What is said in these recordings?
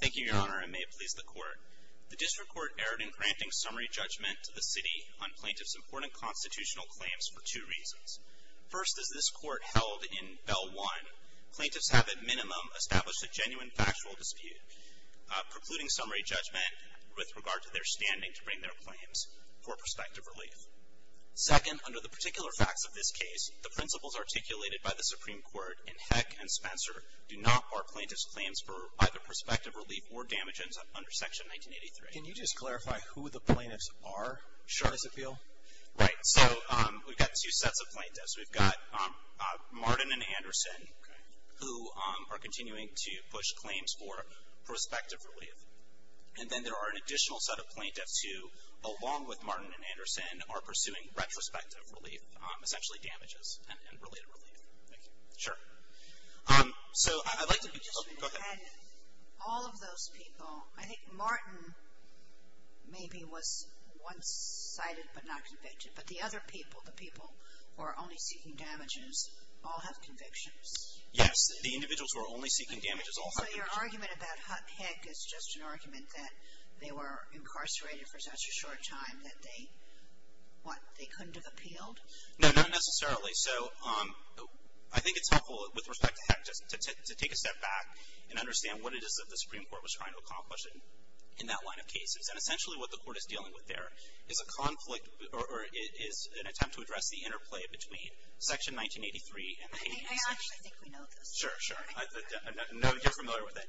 Thank you, Your Honor. I may please the Court. The District Court erred in granting summary judgment to the City on plaintiffs' important constitutional claims for two reasons. First, as this Court held in Bell 1, plaintiffs have at minimum established a genuine factual dispute, precluding summary judgment with regard to their standing to bring their claims for prospective relief. Second, under the particular facts of this case, the principles articulated by the Supreme Court in Heck v. Spencer do not bar plaintiffs' claims for either prospective relief or damages under Section 1983. Can you just clarify who the plaintiffs are, shortest appeal? Right, so we've got two sets of plaintiffs. We've got Martin and Anderson, who are continuing to push claims for prospective relief. And then there are an additional set of plaintiffs who, along with Martin and Anderson, are pursuing retrospective relief, essentially damages and related relief. Thank you. Sure. So I'd like to be clear. All of those people, I think Martin maybe was once cited but not convicted, but the other people, the people who are only seeking damages, all have convictions. Yes, the individuals who are only seeking damages all have convictions. So your argument about Heck is just an argument that they were incarcerated for such a short time that they, what, they couldn't have appealed? No, not necessarily. So I think it's helpful with respect to Heck to take a step back and understand what it is that the Supreme Court was trying to accomplish in that line of cases. And essentially what the Court is dealing with there is a conflict, or is an attempt to address the interplay between Section 1983 and the Habeas Statute. I think we know this. Sure, sure. I know you're familiar with it.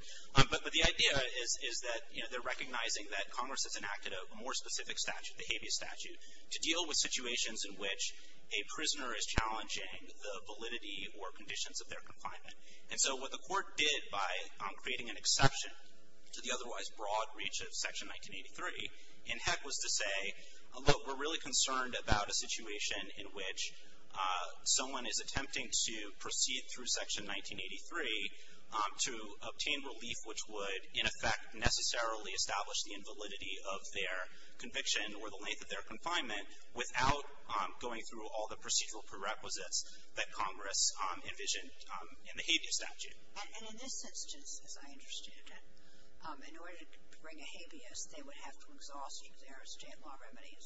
But the idea is that they're recognizing that Congress has enacted a more specific statute, the Habeas Statute, to deal with situations in which a prisoner is challenging the validity or conditions of their confinement. And so what the Court did by creating an exception to the otherwise broad reach of Section 1983 in Heck was to say, look, we're really concerned about a situation in which someone is attempting to proceed through Section 1983 to obtain relief, which would, in effect, necessarily establish the invalidity of their conviction or the length of their confinement, without going through all the procedural prerequisites that Congress envisioned in the Habeas Statute. And in this instance, as I understood it, in order to bring a habeas, they would have to exhaust each other's jail law remedies.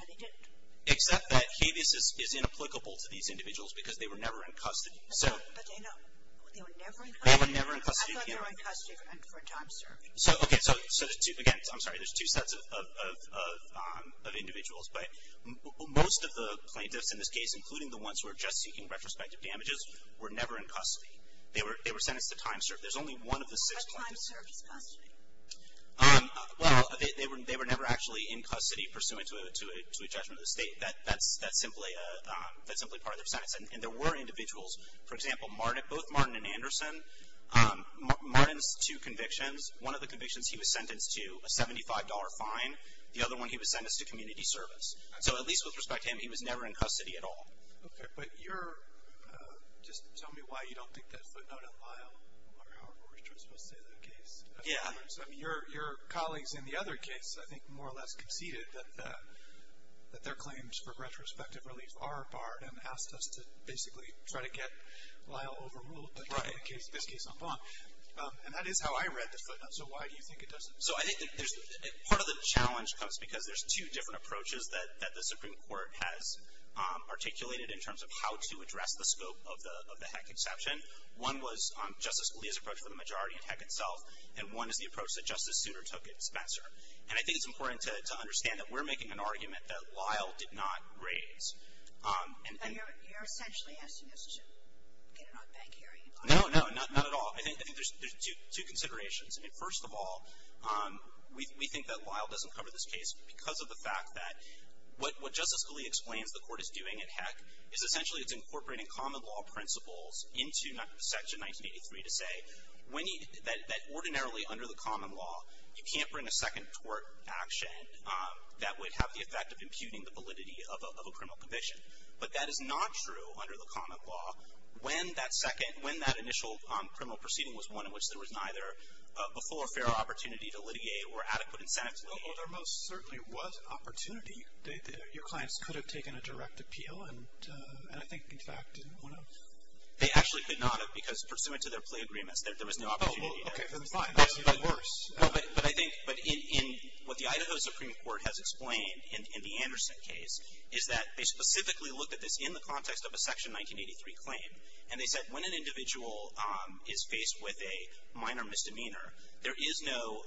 And they didn't. Except that habeas is inapplicable to these individuals because they were never in custody. But Dana, they were never in custody? They were never in custody. I thought they were in custody for time serving. Okay, so again, I'm sorry, there's two sets of individuals. But most of the plaintiffs in this case, including the ones who are just seeking retrospective damages, were never in custody. They were sentenced to time serving. There's only one of the six plaintiffs. But time served is custody. Well, they were never actually in custody pursuant to a judgment of the state. That's simply part of their sentence. And there were individuals, for example, both Martin and Anderson. Martin's two convictions, one of the convictions he was sentenced to a $75 fine. The other one he was sentenced to community service. So at least with respect to him, he was never in custody at all. Okay, but you're, just tell me why you don't think that footnote in Lyle or however we're supposed to say that case. I mean, your colleagues in the other case, I think, more or less conceded that their claims for retrospective relief are barred and asked us to basically try to get Lyle overruled, but in this case, on bond. And that is how I read the footnote. So why do you think it doesn't? So I think part of the challenge comes because there's two different approaches that the Supreme Court has articulated in terms of how to address the scope of the heck inception. One was Justice Scalia's approach for the majority in heck itself, and one is the approach that Justice Souter took at Spencer. And I think it's important to understand that we're making an argument that Lyle did not raise. And you're essentially asking us to get an odd bank hearing. No, no, not at all. I think there's two considerations. I mean, first of all, we think that Lyle doesn't cover this case because of the fact that what Justice Scalia explains the court is doing at heck is essentially it's incorporating common law principles into Section 1983 to say that ordinarily, under the common law, you can't bring a second tort action that would have the effect of imputing the validity of a criminal conviction. But that is not true under the common law when that initial criminal proceeding was one in which there was neither a full or fair opportunity to litigate or adequate incentive to litigate. Well, there most certainly was an opportunity. Your clients could have taken a direct appeal, and I think, in fact, one of them. They actually could not have because, pursuant to their plea agreements, there was no opportunity there. Oh, well, okay, then fine. That's even worse. No, but I think what the Idaho Supreme Court has explained in the Anderson case is that they specifically looked at this in the context of a Section 1983 claim. And they said when an individual is faced with a minor misdemeanor, there is no,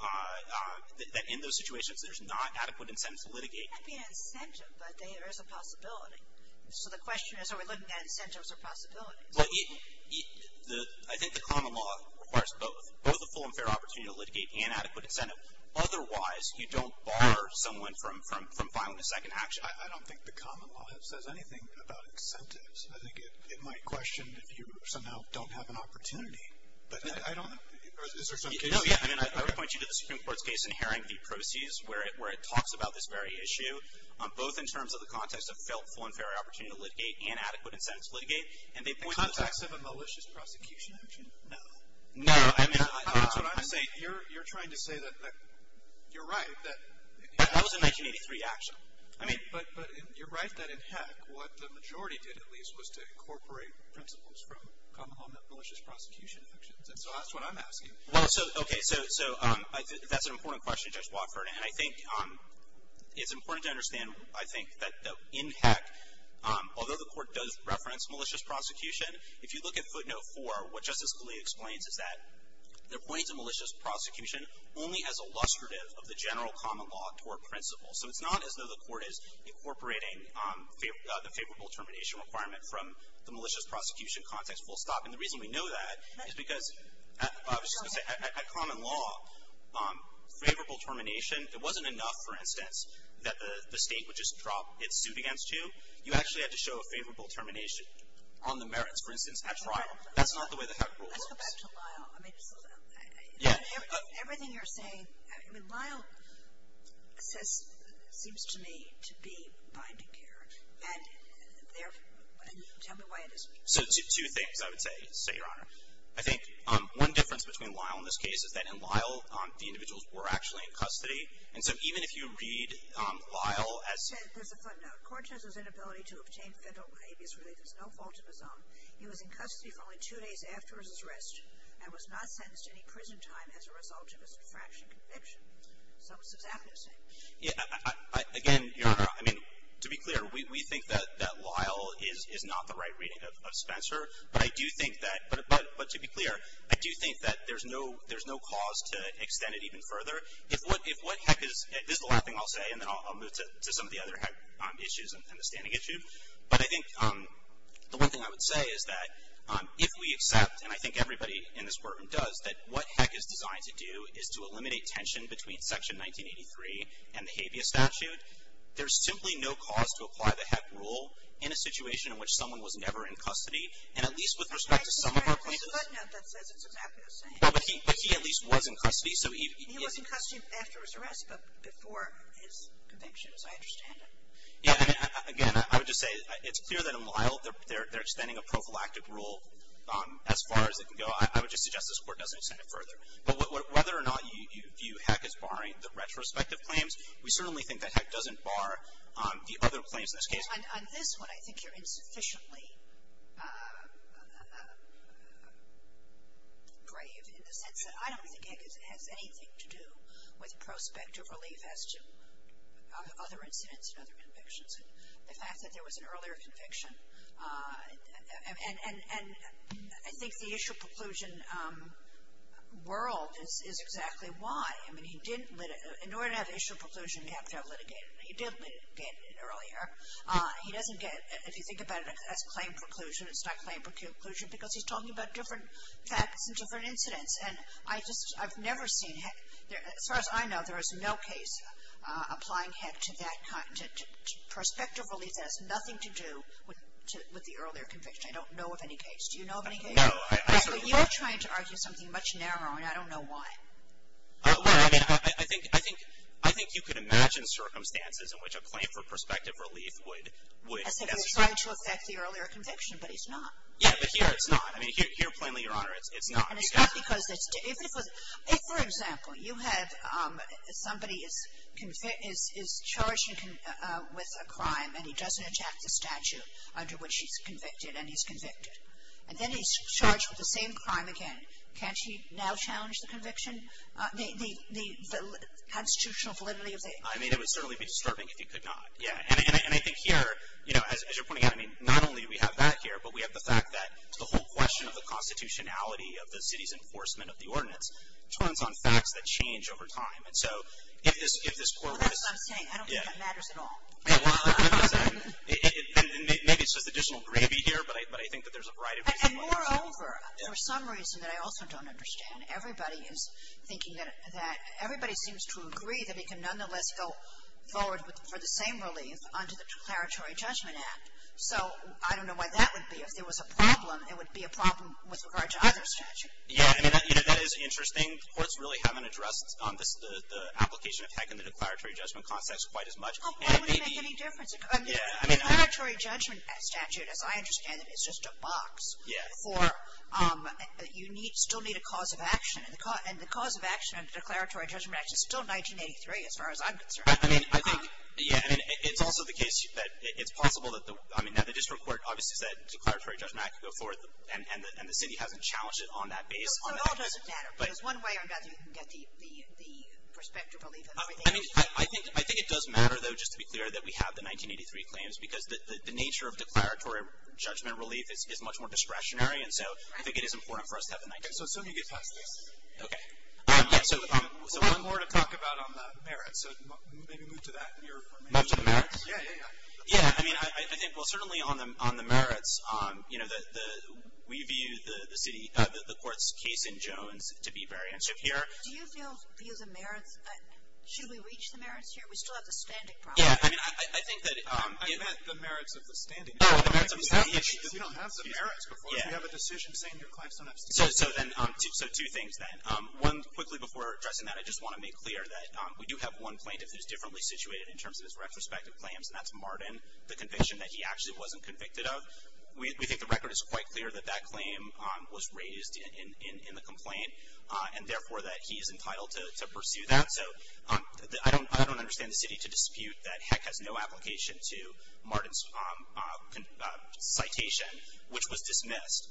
in those situations, there's not adequate incentives to litigate. It might be an incentive, but there is a possibility. So the question is are we looking at incentives or possibilities? Well, I think the common law requires both, both a full and fair opportunity to litigate and adequate incentive. Otherwise, you don't bar someone from filing a second action. I don't think the common law says anything about incentives. I think it might question if you somehow don't have an opportunity. But I don't know. Is there some case? No, yeah. I mean, I would point you to the Supreme Court's case in Haring v. Proceeds, where it talks about this very issue, both in terms of the context of full and fair opportunity to litigate and adequate incentives to litigate. The context of a malicious prosecution, I imagine. No. No. I mean, that's what I'm saying. You're trying to say that you're right, that. That was a 1983 action. I mean, but you're right that in Heck, what the majority did, at least, was to incorporate principles from common law malicious prosecution actions. And so that's what I'm asking. Well, so, okay. So that's an important question, Judge Wofford. And I think it's important to understand, I think, that in Heck, although the Court does reference malicious prosecution, if you look at footnote 4, what Justice Scalia explains is that they're pointing to malicious prosecution only as illustrative of the general common law toward principles. So it's not as though the Court is incorporating the favorable termination requirement from the malicious prosecution context full stop. And the reason we know that is because, I was just going to say, at common law, favorable termination, it wasn't enough, for instance, that the state would just drop its suit against you. You actually had to show a favorable termination on the merits, for instance, at trial. That's not the way that Heck rules. Let's go back to Lyle. Yeah. Everything you're saying, I mean, Lyle seems to me to be binding care. And tell me why it is. So two things I would say, Your Honor. I think one difference between Lyle in this case is that in Lyle, the individuals were actually in custody. And so even if you read Lyle as — There's a footnote. Court judges inability to obtain federal habeas relief is no fault of his own. He was in custody for only two days after his arrest, and was not sentenced to any prison time as a result of his infraction conviction. So it's exactly the same. Yeah. Again, Your Honor, I mean, to be clear, we think that Lyle is not the right reading of Spencer. But I do think that — but to be clear, I do think that there's no cause to extend it even further. If what Heck is — this is the last thing I'll say, and then I'll move to some of the other Heck issues and the standing issue. But I think the one thing I would say is that if we accept, and I think everybody in this courtroom does, that what Heck is designed to do is to eliminate tension between Section 1983 and the habeas statute, there's simply no cause to apply the Heck rule in a situation in which someone was never in custody. And at least with respect to some of our cases — But there's a footnote that says it's exactly the same. But he at least was in custody. He was in custody after his arrest, but before his conviction, as I understand it. Yeah. I mean, again, I would just say it's clear that in Lyle they're extending a prophylactic rule as far as it can go. I would just suggest this Court doesn't extend it further. But whether or not you view Heck as barring the retrospective claims, we certainly think that Heck doesn't bar the other claims in this case. Well, on this one, I think you're insufficiently brave in the sense that I don't think Heck has anything to do with prospective relief as to other incidents and other convictions. The fact that there was an earlier conviction. And I think the issue preclusion world is exactly why. I mean, he didn't — in order to have issue preclusion, you have to have litigation. He did litigate it earlier. He doesn't get — if you think about it as claim preclusion, it's not claim preclusion, because he's talking about different facts and different incidents. And I just — I've never seen Heck — as far as I know, there is no case applying Heck to that kind — to prospective relief that has nothing to do with the earlier conviction. I don't know of any case. Do you know of any case? No. So you're trying to argue something much narrower, and I don't know why. Well, I mean, I think you could imagine circumstances in which a claim for prospective relief would — As if it was trying to affect the earlier conviction, but it's not. Yeah, but here it's not. I mean, here, plainly, Your Honor, it's not. And it's not because it's — if, for example, you have somebody is charged with a crime, and he doesn't attack the statute under which he's convicted, and he's convicted. And then he's charged with the same crime again. Can't he now challenge the conviction? The constitutional validity of the — I mean, it would certainly be disturbing if he could not. Yeah. And I think here, you know, as you're pointing out, I mean, not only do we have that here, but we have the fact that the whole question of the constitutionality of the city's enforcement of the ordinance turns on facts that change over time. And so if this court — That's what I'm saying. I don't think that matters at all. It does. And maybe it's just additional gravy here, but I think that there's a variety of reasons why — And moreover, for some reason that I also don't understand, everybody is thinking that — everybody seems to agree that he can nonetheless go forward for the same relief under the Declaratory Judgment Act. So I don't know why that would be. If there was a problem, it would be a problem with regard to other statutes. Yeah. I mean, you know, that is interesting. The courts really haven't addressed the application of HEC in the Declaratory Judgment Context quite as much. Why would it make any difference? Yeah. I mean, the Declaratory Judgment Statute, as I understand it, is just a box. Yeah. For — you still need a cause of action. And the cause of action under the Declaratory Judgment Act is still 1983, as far as I'm concerned. I mean, I think — yeah, I mean, it's also the case that it's possible that the — I mean, now the district court obviously said Declaratory Judgment Act can go forth, and the city hasn't challenged it on that base. So it all doesn't matter. But — There's one way or another you can get the prospective relief and everything. I mean, I think it does matter, though, just to be clear, that we have the 1983 claims, because the nature of declaratory judgment relief is much more discretionary, and so I think it is important for us to have the 1983. So assume you get past this. Okay. Yeah, so — There's a lot more to talk about on the merits, so maybe move to that. Move to the merits? Yeah, yeah, yeah. Yeah, I mean, I think, well, certainly on the merits, you know, we view the city — the court's case in Jones to be very interesting here. Do you feel the merits — should we reach the merits here? We still have the standing problem. Yeah, I mean, I think that — I meant the merits of the standing. Oh, the merits of the standing. You don't have the merits before. Yeah. If you have a decision saying your claims don't have standing. So then — so two things, then. One, quickly before addressing that, I just want to make clear that we do have one plaintiff who's differently situated in terms of his retrospective claims, and that's Martin, the conviction that he actually wasn't convicted of. We think the record is quite clear that that claim was raised in the complaint, and therefore that he is entitled to pursue that. So I don't understand the city to dispute that Heck has no application to Martin's citation, which was dismissed.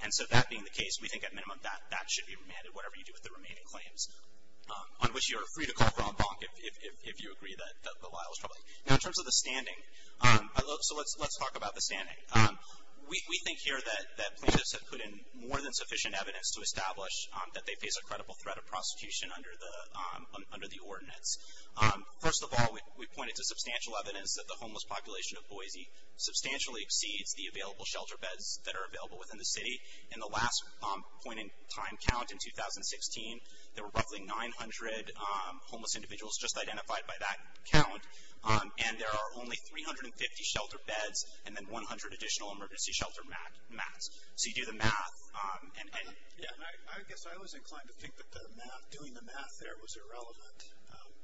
And so that being the case, we think at minimum that should be remanded, whatever you do with the remaining claims, on which you are free to call for en banc if you agree that the lie was probably — Now, in terms of the standing, so let's talk about the standing. We think here that plaintiffs have put in more than sufficient evidence to establish that they face a credible threat of prosecution under the ordinance. First of all, we pointed to substantial evidence that the homeless population of Boise substantially exceeds the available shelter beds that are available within the city. In the last point in time count in 2016, there were roughly 900 homeless individuals just identified by that count, and there are only 350 shelter beds and then 100 additional emergency shelter mats. So you do the math and — Yeah, and I guess I was inclined to think that doing the math there was irrelevant,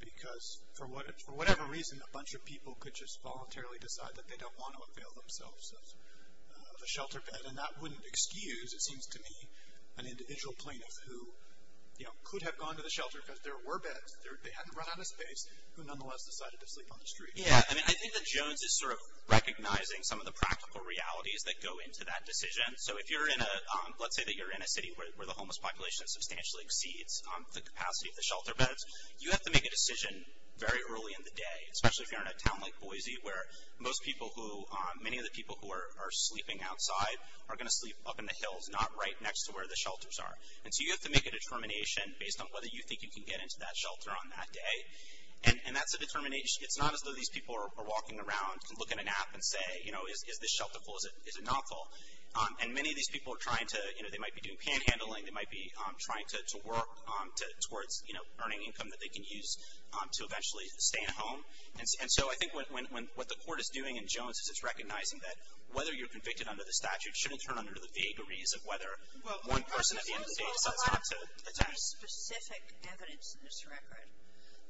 because for whatever reason, a bunch of people could just voluntarily decide that they don't want to avail themselves of a shelter bed, and that wouldn't excuse, it seems to me, an individual plaintiff who, you know, could have gone to the shelter because there were beds, they hadn't run out of space, who nonetheless decided to sleep on the street. Yeah, I mean, I think that Jones is sort of recognizing some of the practical realities that go into that decision. So if you're in a — let's say that you're in a city where the homeless population substantially exceeds the capacity of the shelter beds, you have to make a decision very early in the day, especially if you're in a town like Boise, where most people who — many of the people who are sleeping outside are going to sleep up in the hills, not right next to where the shelters are. And so you have to make a determination based on whether you think you can get into that shelter on that day. And that's a determination — it's not as though these people are walking around, can look in a nap and say, you know, is this shelter full, is it not full? And many of these people are trying to — you know, they might be doing panhandling, they might be trying to work towards, you know, earning income that they can use to eventually stay at home. And so I think what the court is doing in Jones is it's recognizing that whether you're convicted under the statute shouldn't turn under the vagaries of whether one person at the end of the day decides not to attend. Well, there's a lot of specific evidence in this record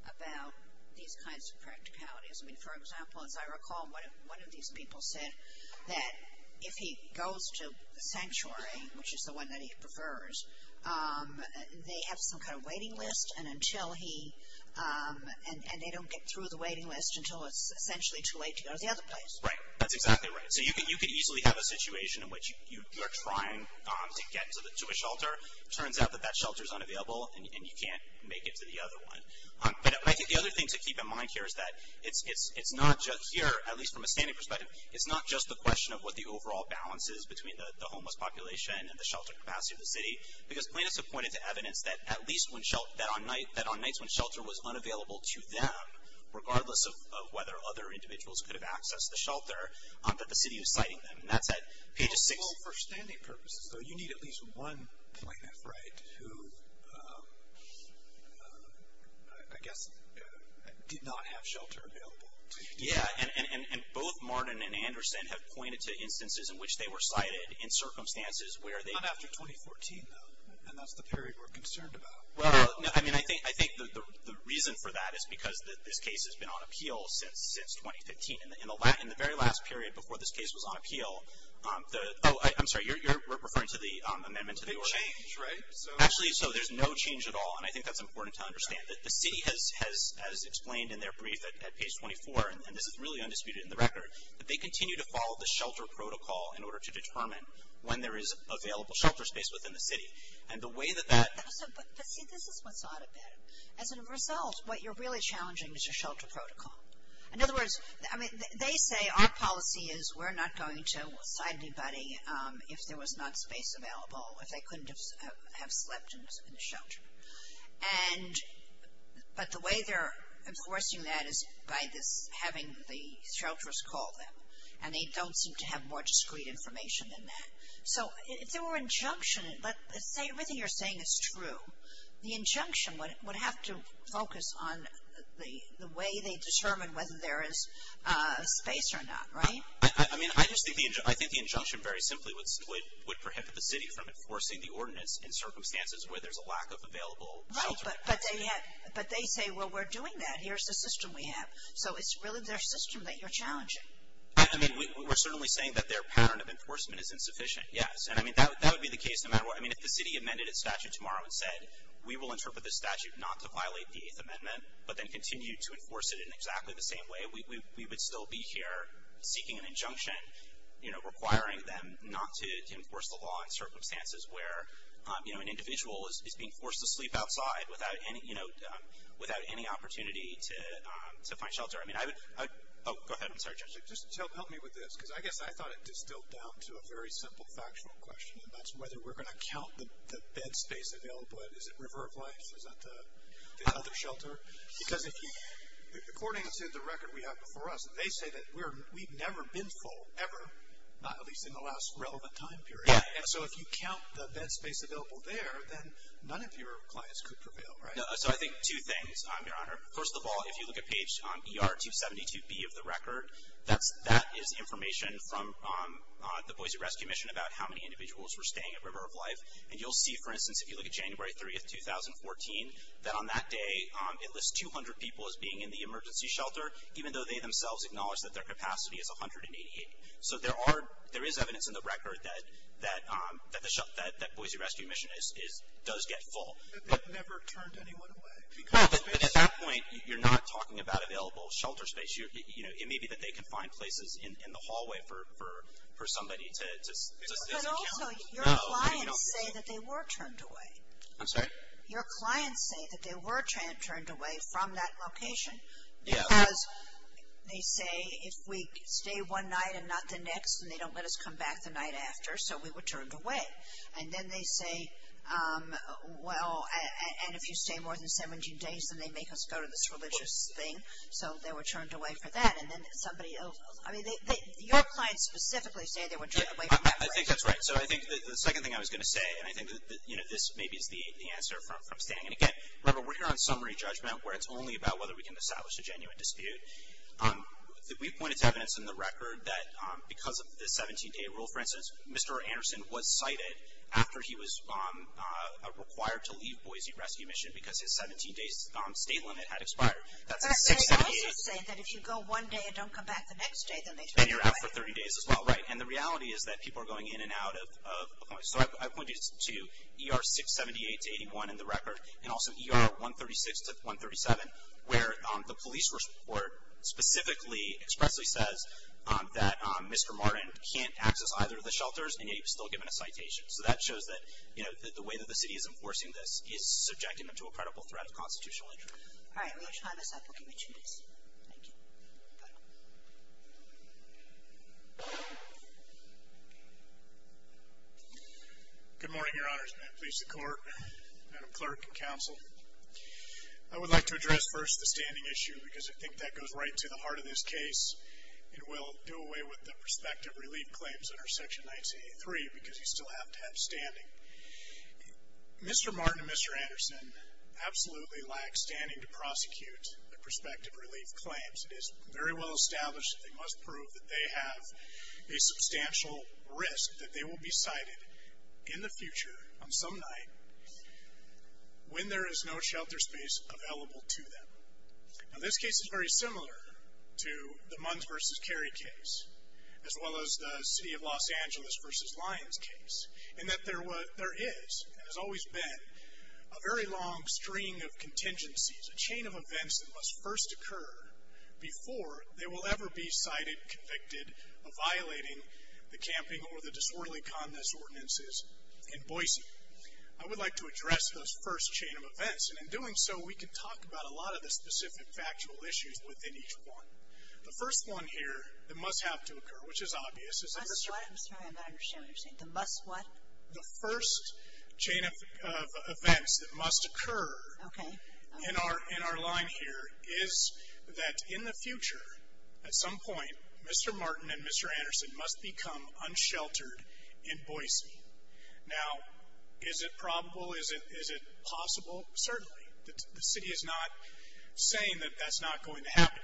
about these kinds of practicalities. I mean, for example, as I recall, one of these people said that if he goes to the sanctuary, which is the one that he prefers, they have some kind of waiting list, and until he — and they don't get through the waiting list until it's essentially too late to go to the other place. Right. That's exactly right. So you could easily have a situation in which you are trying to get to a shelter. It turns out that that shelter is unavailable, and you can't make it to the other one. But I think the other thing to keep in mind here is that it's not just here, at least from a standing perspective, it's not just the question of what the overall balance is between the homeless population and the shelter capacity of the city, because plaintiffs have pointed to evidence that at least when — that on nights when shelter was unavailable to them, regardless of whether other individuals could have accessed the shelter, that the city was citing them. And that's at page 6. Well, for standing purposes, though, you need at least one plaintiff, right, who I guess did not have shelter available to them. Yeah, and both Martin and Anderson have pointed to instances in which they were cited in circumstances where they — Not after 2014, though, and that's the period we're concerned about. Well, I mean, I think the reason for that is because this case has been on appeal since 2015. In the very last period before this case was on appeal, the — oh, I'm sorry, you're referring to the amendment to the ordinance? The change, right? Actually, so there's no change at all, and I think that's important to understand. The city has, as explained in their brief at page 24, and this is really undisputed in the record, that they continue to follow the shelter protocol in order to determine when there is available shelter space within the city. And the way that that — But see, this is what's odd about it. As a result, what you're really challenging is your shelter protocol. In other words, I mean, they say our policy is we're not going to cite anybody if there was not space available, if they couldn't have slept in the shelter. And — but the way they're enforcing that is by this — having the shelters call them, and they don't seem to have more discrete information than that. So if there were injunction, but everything you're saying is true, the injunction would have to focus on the way they determine whether there is space or not, right? I mean, I just think the — I think the injunction very simply would prohibit the city from enforcing the ordinance in circumstances where there's a lack of available shelter. Right, but they have — but they say, well, we're doing that. Here's the system we have. So it's really their system that you're challenging. I mean, we're certainly saying that their pattern of enforcement is insufficient, yes. And I mean, that would be the case no matter what. I mean, if the city amended its statute tomorrow and said, we will interpret this statute not to violate the Eighth Amendment, but then continue to enforce it in exactly the same way, we would still be here seeking an injunction, you know, requiring them not to enforce the law in circumstances where, you know, an individual is being forced to sleep outside without any — you know, without any opportunity to find shelter. I mean, I would — oh, go ahead. I'm sorry, Judge. Just help me with this, because I guess I thought it distilled down to a very simple factual question, and that's whether we're going to count the bed space available at — is it River of Life? Is that the other shelter? Because if you — according to the record we have before us, they say that we've never been full ever, at least in the last relevant time period. Yeah. And so if you count the bed space available there, then none of your clients could prevail, right? No. So I think two things, Your Honor. First of all, if you look at page ER272B of the record, that is information from the Boise Rescue Mission about how many individuals were staying at River of Life. And you'll see, for instance, if you look at January 3, 2014, that on that day it lists 200 people as being in the emergency shelter, even though they themselves acknowledge that their capacity is 188. So there is evidence in the record that Boise Rescue Mission does get full. But they've never turned anyone away. No, but at that point you're not talking about available shelter space. It may be that they can find places in the hallway for somebody to stay. But also your clients say that they were turned away. I'm sorry? Your clients say that they were turned away from that location. Yeah. Because they say if we stay one night and not the next, and they don't let us come back the night after, so we were turned away. And then they say, well, and if you stay more than 17 days, then they make us go to this religious thing. So they were turned away for that. And then somebody else. I mean, your clients specifically say they were turned away from that place. I think that's right. So I think the second thing I was going to say, and I think that this maybe is the answer from staying. And, again, we're here on summary judgment, where it's only about whether we can establish a genuine dispute. We've pointed to evidence in the record that because of the 17-day rule, for instance, Mr. Anderson was cited after he was required to leave Boise Rescue Mission because his 17-day state limit had expired. They also say that if you go one day and don't come back the next day, then they turn you away. And you're out for 30 days as well. Right. And the reality is that people are going in and out of Oklahoma. So I pointed to ER 678-81 in the record, and also ER 136-137, where the police report specifically expressly says that Mr. Martin can't access either of the shelters, and yet he was still given a citation. So that shows that the way that the city is enforcing this is subjecting them to a credible threat of constitutional injury. All right. We have time to stop. We'll give you two minutes. Thank you. Good morning, Your Honors. Please, the Court, Madam Clerk, and Counsel. I would like to address first the standing issue, because I think that goes right to the heart of this case and will do away with the prospective relief claims under Section 1983, because you still have to have standing. Mr. Martin and Mr. Anderson absolutely lack standing to prosecute the prospective relief claims. It is very well established that they must prove that they have a substantial risk that they will be cited in the future on some night when there is no shelter space available to them. Now, this case is very similar to the Munns v. Cary case, as well as the City of Los Angeles v. Lyons case, in that there is, and has always been, a very long string of contingencies, a chain of events that must first occur before they will ever be cited, convicted, of violating the camping or the disorderly conduct ordinances in Boise. I would like to address those first chain of events, and in doing so we can talk about a lot of the specific factual issues within each one. The first one here that must have to occur, which is obvious. I'm sorry, I'm not understanding what you're saying. The must what? The first chain of events that must occur in our line here is that in the future, at some point, Mr. Martin and Mr. Anderson must become unsheltered in Boise. Now, is it probable? Is it possible? Certainly. The city is not saying that that's not going to happen.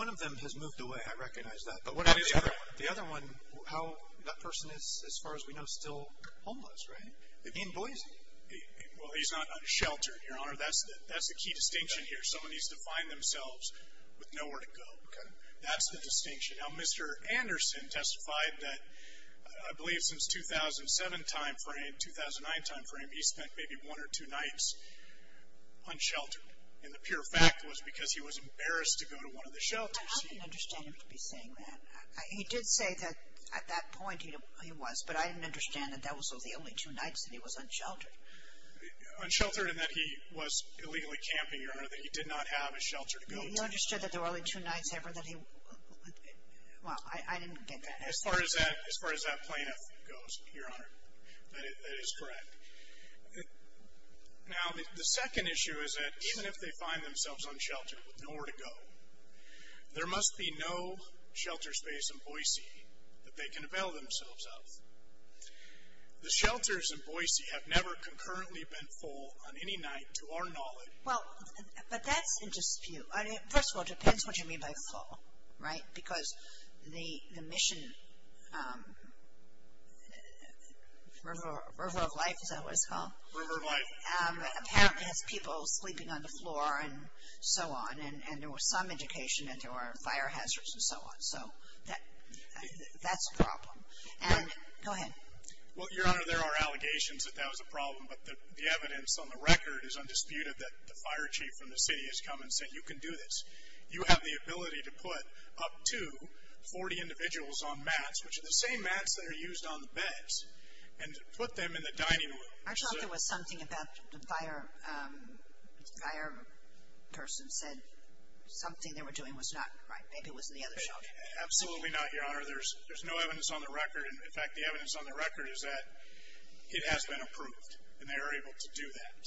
One of them has moved away, I recognize that. The other one, how that person is, as far as we know, still homeless, right? In Boise. Well, he's not unsheltered, Your Honor. That's the key distinction here. Someone needs to find themselves with nowhere to go. That's the distinction. Now, Mr. Anderson testified that, I believe since 2007 time frame, 2009 time frame, he spent maybe one or two nights unsheltered. And the pure fact was because he was embarrassed to go to one of the shelters. I didn't understand him to be saying that. He did say that at that point he was, but I didn't understand that that was the only two nights that he was unsheltered. Unsheltered in that he was illegally camping, Your Honor, that he did not have a shelter to go to. He understood that there were only two nights ever that he, well, I didn't get that. As far as that plaintiff goes, Your Honor, that is correct. Now, the second issue is that even if they find themselves unsheltered with nowhere to go, there must be no shelter space in Boise that they can avail themselves of. The shelters in Boise have never concurrently been full on any night to our knowledge. Well, but that's in dispute. First of all, it depends what you mean by full, right? Because the mission, River of Life, is that what it's called? River of Life. Apparently has people sleeping on the floor and so on. And there was some indication that there were fire hazards and so on. So that's a problem. And go ahead. Well, Your Honor, there are allegations that that was a problem, but the evidence on the record is undisputed that the fire chief from the city has come and said you can do this. You have the ability to put up to 40 individuals on mats, which are the same mats that are used on the beds, and put them in the dining room. I thought there was something about the fire person said something they were doing was not right. Maybe it was in the other shelter. Absolutely not, Your Honor. There's no evidence on the record. In fact, the evidence on the record is that it has been approved, and they are able to do that.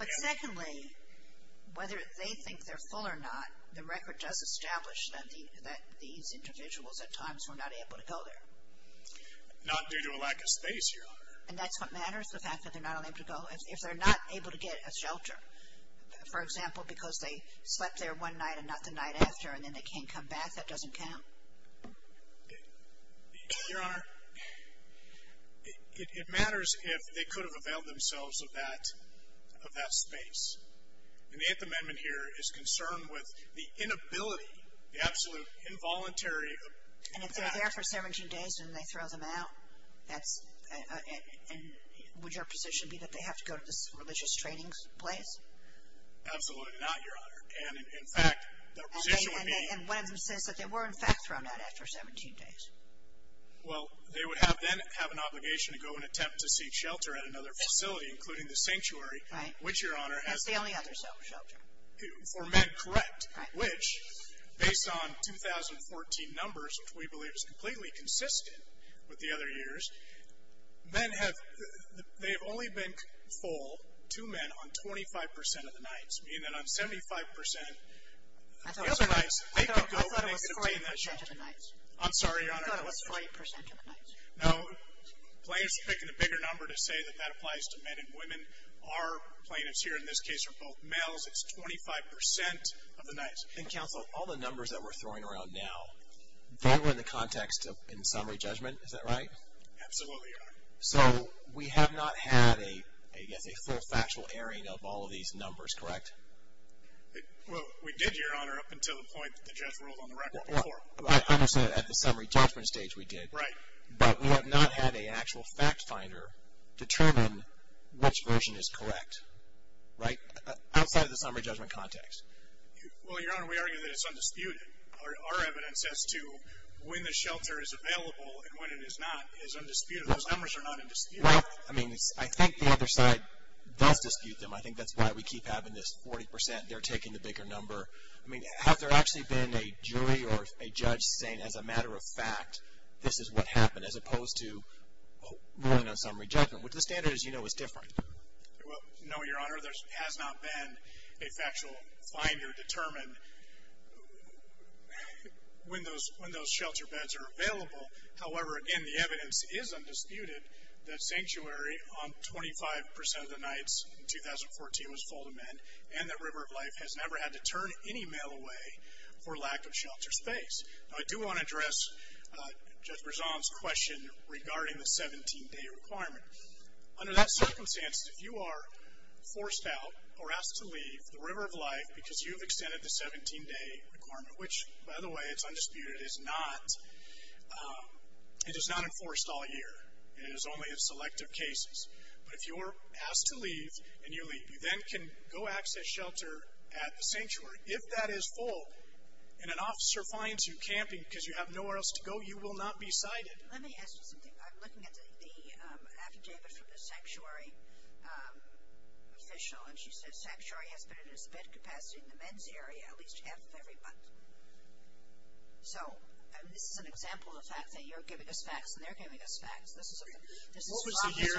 But secondly, whether they think they're full or not, the record does establish that these individuals at times were not able to go there. Not due to a lack of space, Your Honor. And that's what matters, the fact that they're not able to go. If they're not able to get a shelter, for example, because they slept there one night and not the night after and then they can't come back, that doesn't count. Your Honor, it matters if they could have availed themselves of that space. And the Eighth Amendment here is concerned with the inability, the absolute involuntary. And if they're there for 17 days and they throw them out, would your position be that they have to go to this religious training place? Absolutely not, Your Honor. And in fact, the position would be. And one of them says that they were, in fact, thrown out after 17 days. Well, they would then have an obligation to go and attempt to seek shelter at another facility, including the sanctuary, which, Your Honor. That's the only other shelter. For men, correct. Which, based on 2014 numbers, which we believe is completely consistent with the other years, men have, they have only been full, two men, on 25% of the nights. Meaning that on 75% of the nights, they could go and they could obtain that shelter. I thought it was 40% of the nights. I'm sorry, Your Honor. I thought it was 40% of the nights. No, plaintiffs are picking a bigger number to say that that applies to men and women. Our plaintiffs here in this case are both males. It's 25% of the nights. And, Counsel, all the numbers that we're throwing around now, Absolutely, Your Honor. So, we have not had, I guess, a full factual airing of all of these numbers, correct? Well, we did, Your Honor, up until the point that the judge ruled on the record before. I understand that at the summary judgment stage we did. Right. But we have not had an actual fact finder determine which version is correct. Right? Outside of the summary judgment context. Well, Your Honor, we argue that it's undisputed. Our evidence as to when the shelter is available and when it is not is undisputed. Those numbers are not undisputed. Right. I mean, I think the other side does dispute them. I think that's why we keep having this 40% they're taking the bigger number. I mean, has there actually been a jury or a judge saying, as a matter of fact, this is what happened, as opposed to ruling on summary judgment, which the standard, as you know, is different. Well, no, Your Honor. There has not been a factual finder determine when those shelter beds are available. However, again, the evidence is undisputed that sanctuary on 25% of the nights in 2014 was full demand, and that River of Life has never had to turn any mail away for lack of shelter space. Now, I do want to address Judge Berzon's question regarding the 17-day requirement. Under that circumstance, if you are forced out or asked to leave the River of Life because you've extended the 17-day requirement, which, by the way, it's undisputed, it is not enforced all year. It is only in selective cases. But if you are asked to leave and you leave, you then can go access shelter at the sanctuary. If that is full and an officer finds you camping because you have nowhere else to go, you will not be cited. Let me ask you something. I'm looking at the affidavit from the sanctuary official, and she says sanctuary has been at its best capacity in the men's area at least half every month. So this is an example of the fact that you're giving us facts and they're giving us facts. This is from the sanctuary. What was the year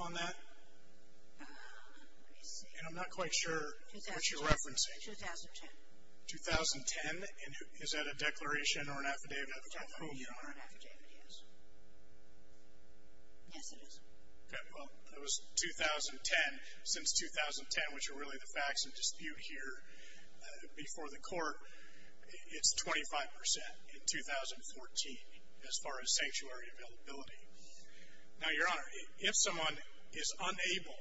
on that? Let me see. And I'm not quite sure what you're referencing. 2010. 2010? Is that a declaration or an affidavit of approval? A declaration or an affidavit, yes. Yes, it is. Okay. Well, that was 2010. Since 2010, which are really the facts in dispute here before the court, it's 25% in 2014 as far as sanctuary availability. Now, Your Honor, if someone is unable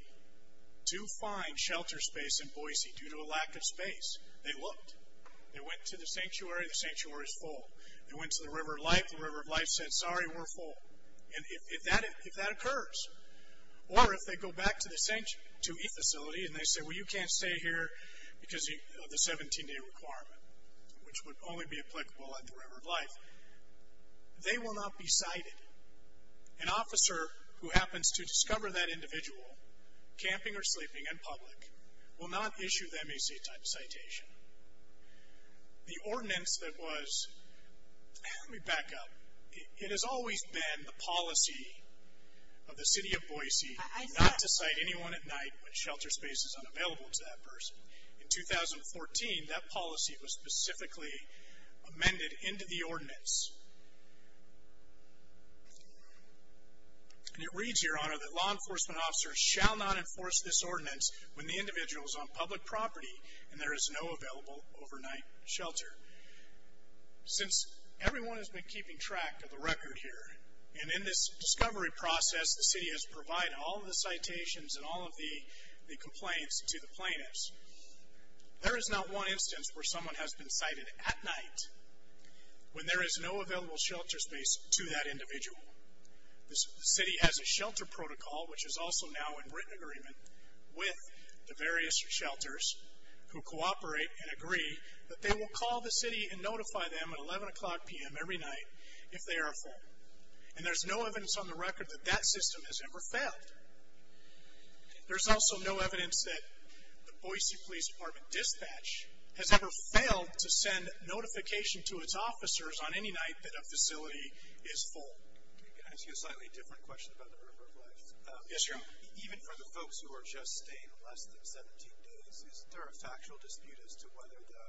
to find shelter space in Boise due to a lack of space, they looked. They went to the sanctuary. The sanctuary is full. They went to the River of Life. The River of Life said, sorry, we're full. And if that occurs, or if they go back to the facility and they say, well, you can't stay here because of the 17-day requirement, which would only be applicable at the River of Life, they will not be cited. An officer who happens to discover that individual camping or sleeping in public will not issue them a C-type citation. The ordinance that was, let me back up. It has always been the policy of the city of Boise not to cite anyone at night when shelter space is unavailable to that person. In 2014, that policy was specifically amended into the ordinance. And it reads here, Your Honor, that law enforcement officers shall not enforce this ordinance when the individual is on public property and there is no available overnight shelter. Since everyone has been keeping track of the record here, and in this discovery process, the city has provided all of the citations and all of the complaints to the plaintiffs. There is not one instance where someone has been cited at night when there is no available shelter space to that individual. The city has a shelter protocol, which is also now in written agreement with the various shelters, who cooperate and agree that they will call the city and notify them at 11 o'clock p.m. every night if they are full. And there's no evidence on the record that that system has ever failed. There's also no evidence that the Boise Police Department dispatch has ever failed to send notification to its officers on any night that a facility is full. Can I ask you a slightly different question about the River of Life? Yes, Your Honor. Even for the folks who are just staying less than 17 days, is there a factual dispute as to whether the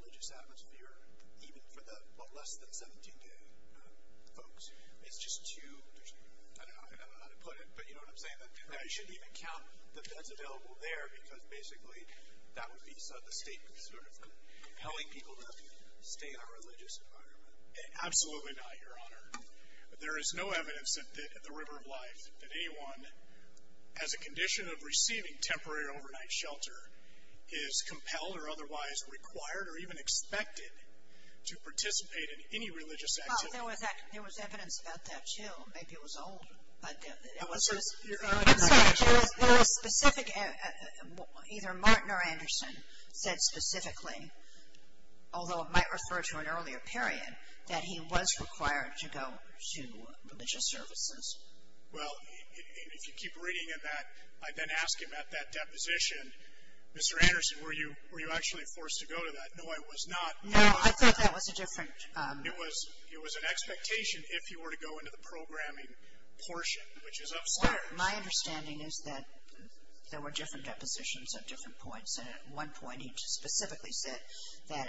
religious atmosphere, even for the less than 17-day folks, it's just too, I don't know how to put it, but you know what I'm saying? You shouldn't even count the beds available there, because basically that would be sort of compelling people to stay in a religious environment. Absolutely not, Your Honor. There is no evidence at the River of Life that anyone, as a condition of receiving temporary overnight shelter, is compelled or otherwise required or even expected to participate in any religious activity. I think there was evidence about that, too. Maybe it was old. I'm sorry, there was specific, either Martin or Anderson said specifically, although it might refer to an earlier period, that he was required to go to religious services. Well, if you keep reading in that, I then ask him at that deposition, Mr. Anderson, were you actually forced to go to that? No, I was not. No, I thought that was a different. It was an expectation if you were to go into the programming portion, which is up there. My understanding is that there were different depositions at different points, and at one point he specifically said that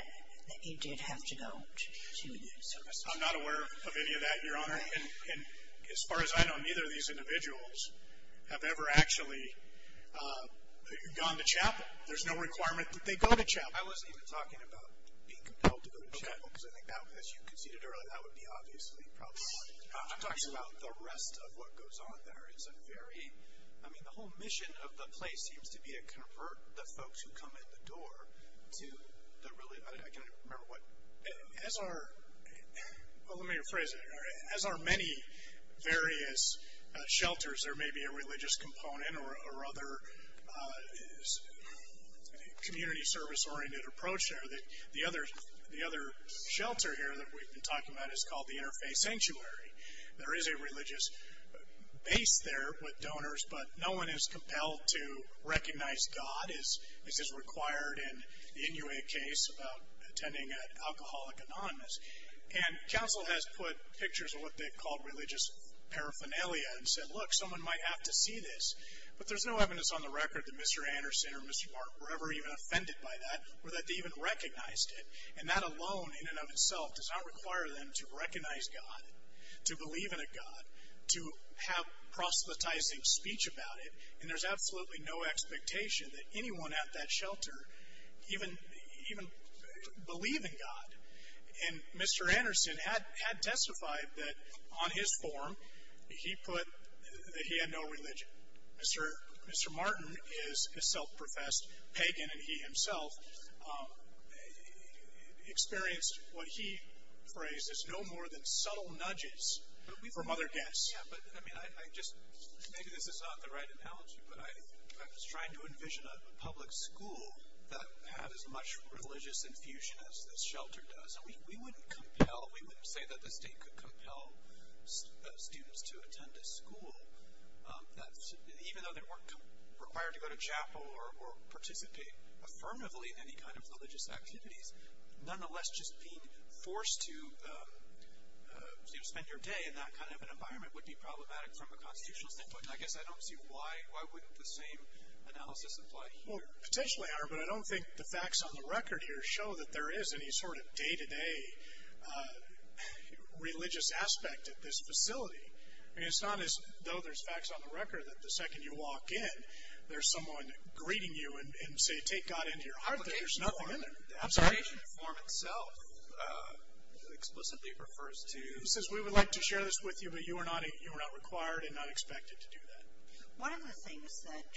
he did have to go to religious services. I'm not aware of any of that, Your Honor. And as far as I know, neither of these individuals have ever actually gone to chapel. There's no requirement that they go to chapel. I wasn't even talking about being compelled to go to chapel, because I think that, as you conceded earlier, that would be obviously problematic. I'm talking about the rest of what goes on there. It's a very, I mean, the whole mission of the place seems to be to convert the folks who come at the door to the really, I can't even remember what. As are, well, let me rephrase it. As are many various shelters, there may be a religious component or other community service-oriented approach there. The other shelter here that we've been talking about is called the Interfaith Sanctuary. There is a religious base there with donors, but no one is compelled to recognize God, as is required in the Inuit case about attending an alcoholic anonymous. And counsel has put pictures of what they've called religious paraphernalia and said, well, look, someone might have to see this. But there's no evidence on the record that Mr. Anderson or Mr. Mark were ever even offended by that or that they even recognized it. And that alone in and of itself does not require them to recognize God, to believe in a God, to have proselytizing speech about it. And there's absolutely no expectation that anyone at that shelter even believe in God. And Mr. Anderson had testified that on his form he put that he had no religion. Mr. Martin is a self-professed pagan, and he himself experienced what he phrased as no more than subtle nudges from other guests. Maybe this is not the right analogy, but I was trying to envision a public school that had as much religious infusion as this shelter does. And we wouldn't say that the state could compel students to attend a school, even though they weren't required to go to chapel or participate affirmatively in any kind of religious activities. Nonetheless, just being forced to spend your day in that kind of an environment would be problematic from a constitutional standpoint. And I guess I don't see why wouldn't the same analysis apply here? Well, it potentially are, but I don't think the facts on the record here show that there is any sort of day-to-day religious aspect at this facility. I mean, it's not as though there's facts on the record that the second you walk in, there's someone greeting you and saying, take God into your heart, that there's nothing in there. The application form itself explicitly refers to. He says, we would like to share this with you, but you are not required and not expected to do that. One of the things that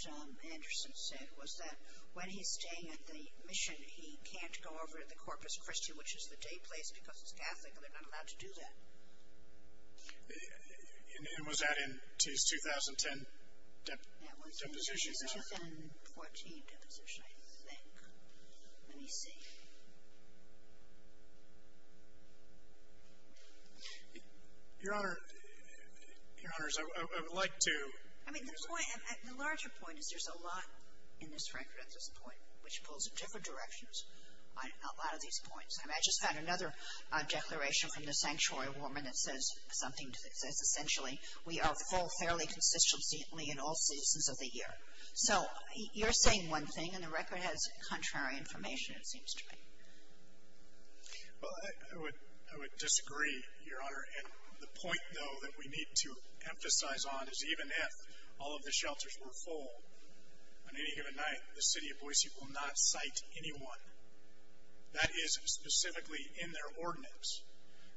Anderson said was that when he's staying at the mission, he can't go over to the Corpus Christi, which is the day place, because it's Catholic and they're not allowed to do that. And was that in his 2010 deposition? That was in 2014 deposition, I think. Let me see. Your Honor, I would like to. I mean, the point, the larger point is there's a lot in this record at this point which pulls in different directions on a lot of these points. I mean, I just found another declaration from the sanctuary woman that says something that says, essentially, we are full fairly consistently in all seasons of the year. So you're saying one thing, and the record has contrary information, it seems to me. Well, I would disagree, Your Honor, and the point, though, that we need to emphasize on is even if all of the shelters were full, on any given night, the city of Boise will not cite anyone. That is specifically in their ordinance.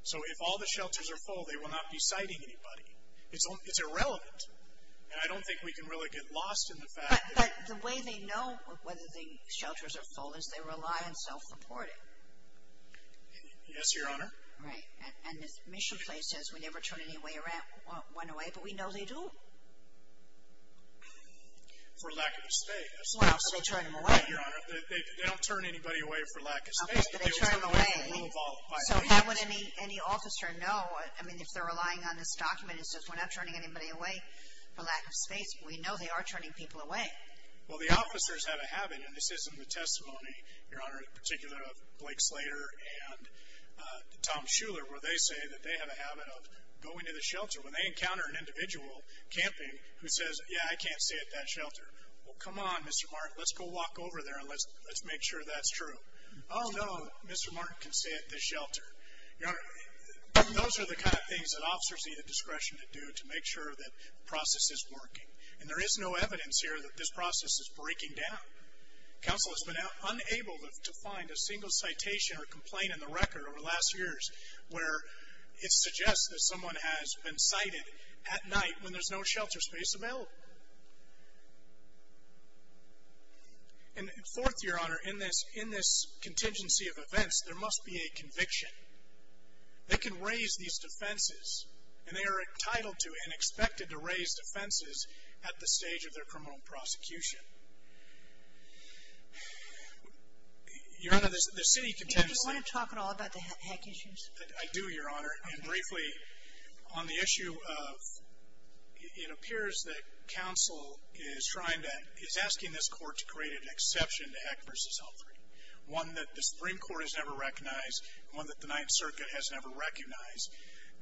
So if all the shelters are full, they will not be citing anybody. It's irrelevant. And I don't think we can really get lost in the fact that. But the way they know whether the shelters are full is they rely on self-reporting. Yes, Your Honor. Right. And Mission Place says we never turn anyone away, but we know they do. For lack of a state. Well, so they turn them away. Right, Your Honor. They don't turn anybody away for lack of state. Okay, but they turn them away. So how would any officer know, I mean, if they're relying on this document, it says we're not turning anybody away for lack of space. We know they are turning people away. Well, the officers have a habit, and this is in the testimony, Your Honor, in particular of Blake Slater and Tom Shuler, where they say that they have a habit of going to the shelter. When they encounter an individual camping who says, yeah, I can't stay at that shelter, well, come on, Mr. Martin, let's go walk over there and let's make sure that's true. Oh, no, Mr. Martin can stay at this shelter. Your Honor, those are the kind of things that officers need the discretion to do to make sure that the process is working. And there is no evidence here that this process is breaking down. Counsel has been unable to find a single citation or complaint in the record over the last years where it suggests that someone has been sighted at night when there's no shelter space available. And fourth, Your Honor, in this contingency of events, there must be a conviction. They can raise these defenses, and they are entitled to and expected to raise defenses at the stage of their criminal prosecution. Your Honor, the city contingency. Do you want to talk at all about the hack issues? I do, Your Honor. And briefly, on the issue of, it appears that counsel is trying to, is asking this court to create an exception to Heck v. Humphrey, one that the Supreme Court has never recognized, one that the Ninth Circuit has never recognized,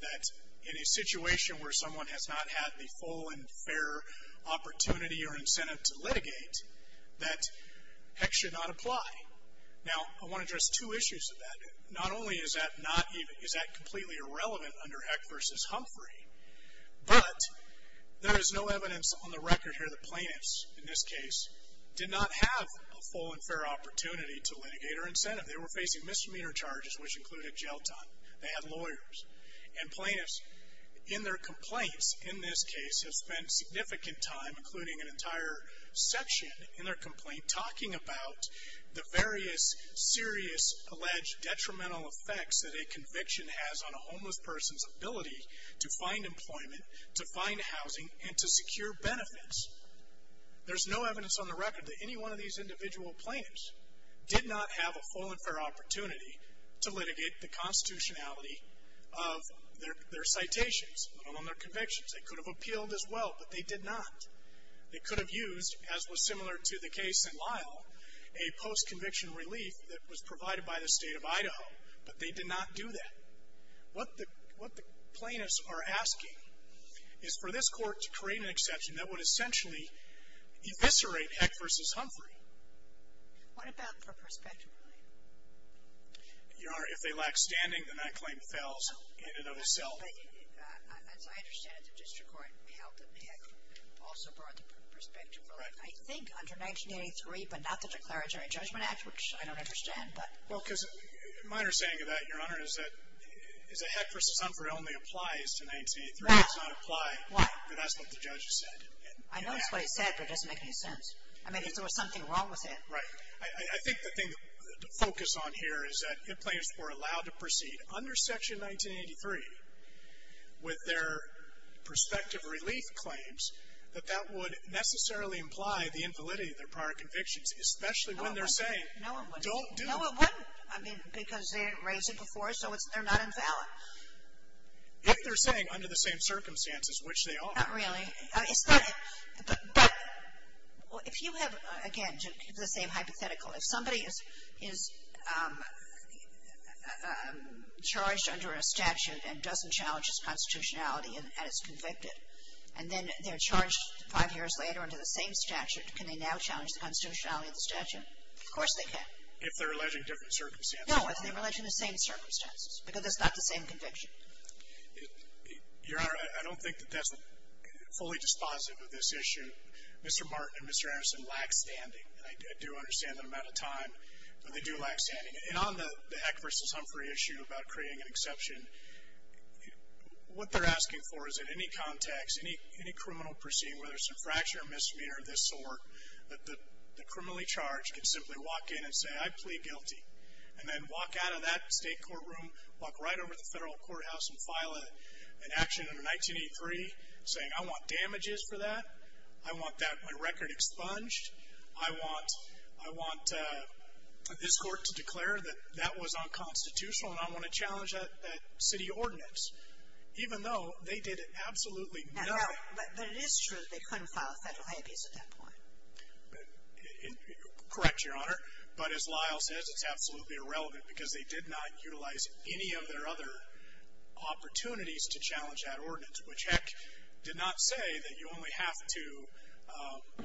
that in a situation where someone has not had the full and fair opportunity or incentive to litigate, that Heck should not apply. Now, I want to address two issues with that. Not only is that completely irrelevant under Heck v. Humphrey, but there is no evidence on the record here that plaintiffs, in this case, did not have a full and fair opportunity to litigate or incentive. They were facing misdemeanor charges, which included jail time. They had lawyers. And plaintiffs, in their complaints, in this case, have spent significant time, including an entire section in their complaint, talking about the various serious alleged detrimental effects that a conviction has on a homeless person's ability to find employment, to find housing, and to secure benefits. There's no evidence on the record that any one of these individual plaintiffs did not have a full and fair opportunity to litigate the constitutionality of their citations on their convictions. They could have appealed as well, but they did not. They could have used, as was similar to the case in Lyle, a post-conviction relief that was provided by the State of Idaho, but they did not do that. What the plaintiffs are asking is for this Court to create an exception that would essentially eviscerate Heck v. Humphrey. What about for prospective relief? Your Honor, if they lack standing, then I claim fells in and of itself. As I understand it, the district court held that Heck also brought the prospective relief. I think under 1983, but not the Declaratory Judgment Act, which I don't understand. My understanding of that, Your Honor, is that Heck v. Humphrey only applies to 1983. It does not apply, but that's what the judge has said. I know that's what he said, but it doesn't make any sense. I mean, there was something wrong with it. Right. I think the thing to focus on here is that the plaintiffs were allowed to proceed under Section 1983 with their prospective relief claims, but that would necessarily imply the invalidity of their prior convictions, especially when they're saying don't do it. No, it wouldn't. I mean, because they didn't raise it before, so they're not invalid. If they're saying under the same circumstances, which they are. Not really. But if you have, again, the same hypothetical, if somebody is charged under a statute and doesn't challenge his constitutionality and is convicted, and then they're charged five years later under the same statute, can they now challenge the constitutionality of the statute? Of course they can. If they're alleging different circumstances. No, if they're alleging the same circumstances, because it's not the same conviction. Your Honor, I don't think that that's fully dispositive of this issue. Mr. Martin and Mr. Anderson lack standing, and I do understand that amount of time, but they do lack standing. And on the Heck v. Humphrey issue about creating an exception, what they're asking for is that any context, any criminal proceeding, whether it's infraction or misdemeanor of this sort, that the criminally charged can simply walk in and say I plead guilty and then walk out of that state courtroom, walk right over to the federal courthouse and file an action under 1983 saying I want damages for that, I want my record expunged, I want this court to declare that that was unconstitutional and I want to challenge that city ordinance, even though they did absolutely nothing. But it is true that they couldn't file federal habeas at that point. Correct, Your Honor. But as Lyle says, it's absolutely irrelevant, because they did not utilize any of their other opportunities to challenge that ordinance, which, heck, did not say that you only have to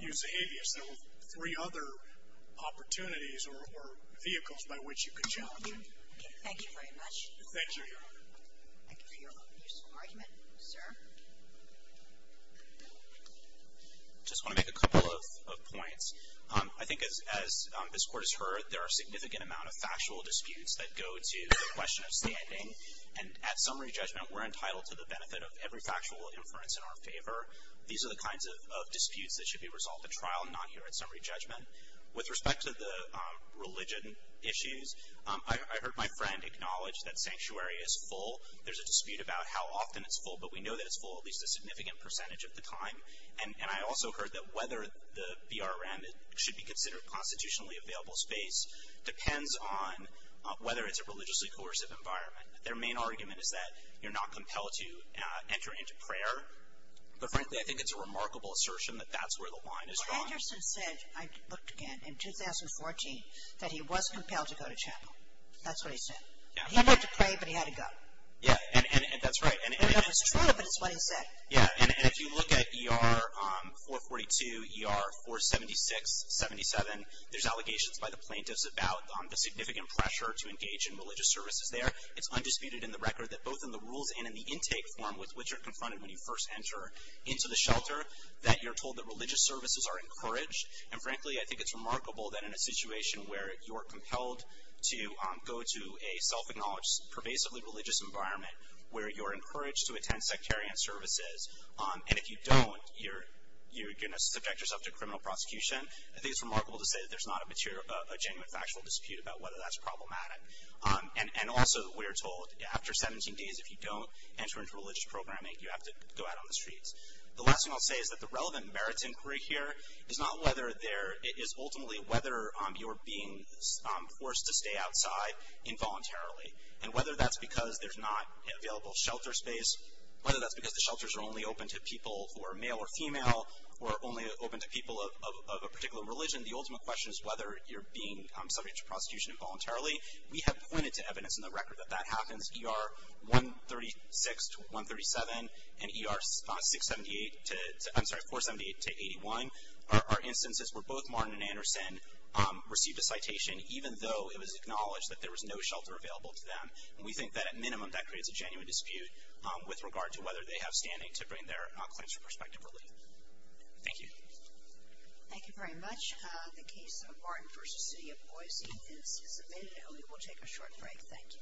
use the habeas. There were three other opportunities or vehicles by which you could challenge it. Thank you very much. Thank you, Your Honor. Thank you for your useful argument, sir. I just want to make a couple of points. I think as this Court has heard, there are a significant amount of factual disputes that go to the question of standing. And at summary judgment, we're entitled to the benefit of every factual inference in our favor. These are the kinds of disputes that should be resolved at trial, not here at summary judgment. With respect to the religion issues, I heard my friend acknowledge that sanctuary is full. There's a dispute about how often it's full, but we know that it's full at least a significant percentage of the time. And I also heard that whether the BRM should be considered constitutionally available space depends on whether it's a religiously coercive environment. Their main argument is that you're not compelled to enter into prayer. But frankly, I think it's a remarkable assertion that that's where the line is drawn. Well, Henderson said, I looked again, in 2014, that he was compelled to go to chapel. That's what he said. Yeah. He had to pray, but he had to go. Yeah, and that's right. No, it's true, but it's what he said. Yeah, and if you look at ER 442, ER 476, 77, there's allegations by the plaintiffs about the significant pressure to engage in religious services there. It's undisputed in the record that both in the rules and in the intake form, with which you're confronted when you first enter into the shelter, that you're told that religious services are encouraged. And frankly, I think it's remarkable that in a situation where you're compelled to go to a self-acknowledged, pervasively religious environment, where you're encouraged to attend sectarian services, and if you don't, you're going to subject yourself to criminal prosecution, I think it's remarkable to say that there's not a genuine factual dispute about whether that's problematic. And also, we're told, after 17 days, if you don't enter into religious programming, you have to go out on the streets. The last thing I'll say is that the relevant merits inquiry here is not whether there – it is ultimately whether you're being forced to stay outside involuntarily. And whether that's because there's not available shelter space, whether that's because the shelters are only open to people who are male or female, or only open to people of a particular religion, the ultimate question is whether you're being subject to prosecution involuntarily. We have pointed to evidence in the record that that happens. ER 136 to 137 and ER 678 to – I'm sorry, 478 to 81 are instances where both Martin and Anderson received a citation, even though it was acknowledged that there was no shelter available to them. And we think that, at minimum, that creates a genuine dispute with regard to whether they have standing to bring their claims for prospective relief. Thank you. Thank you very much. The case of Martin v. City of Boise is submitted. And we will take a short break. Thank you. Thank you.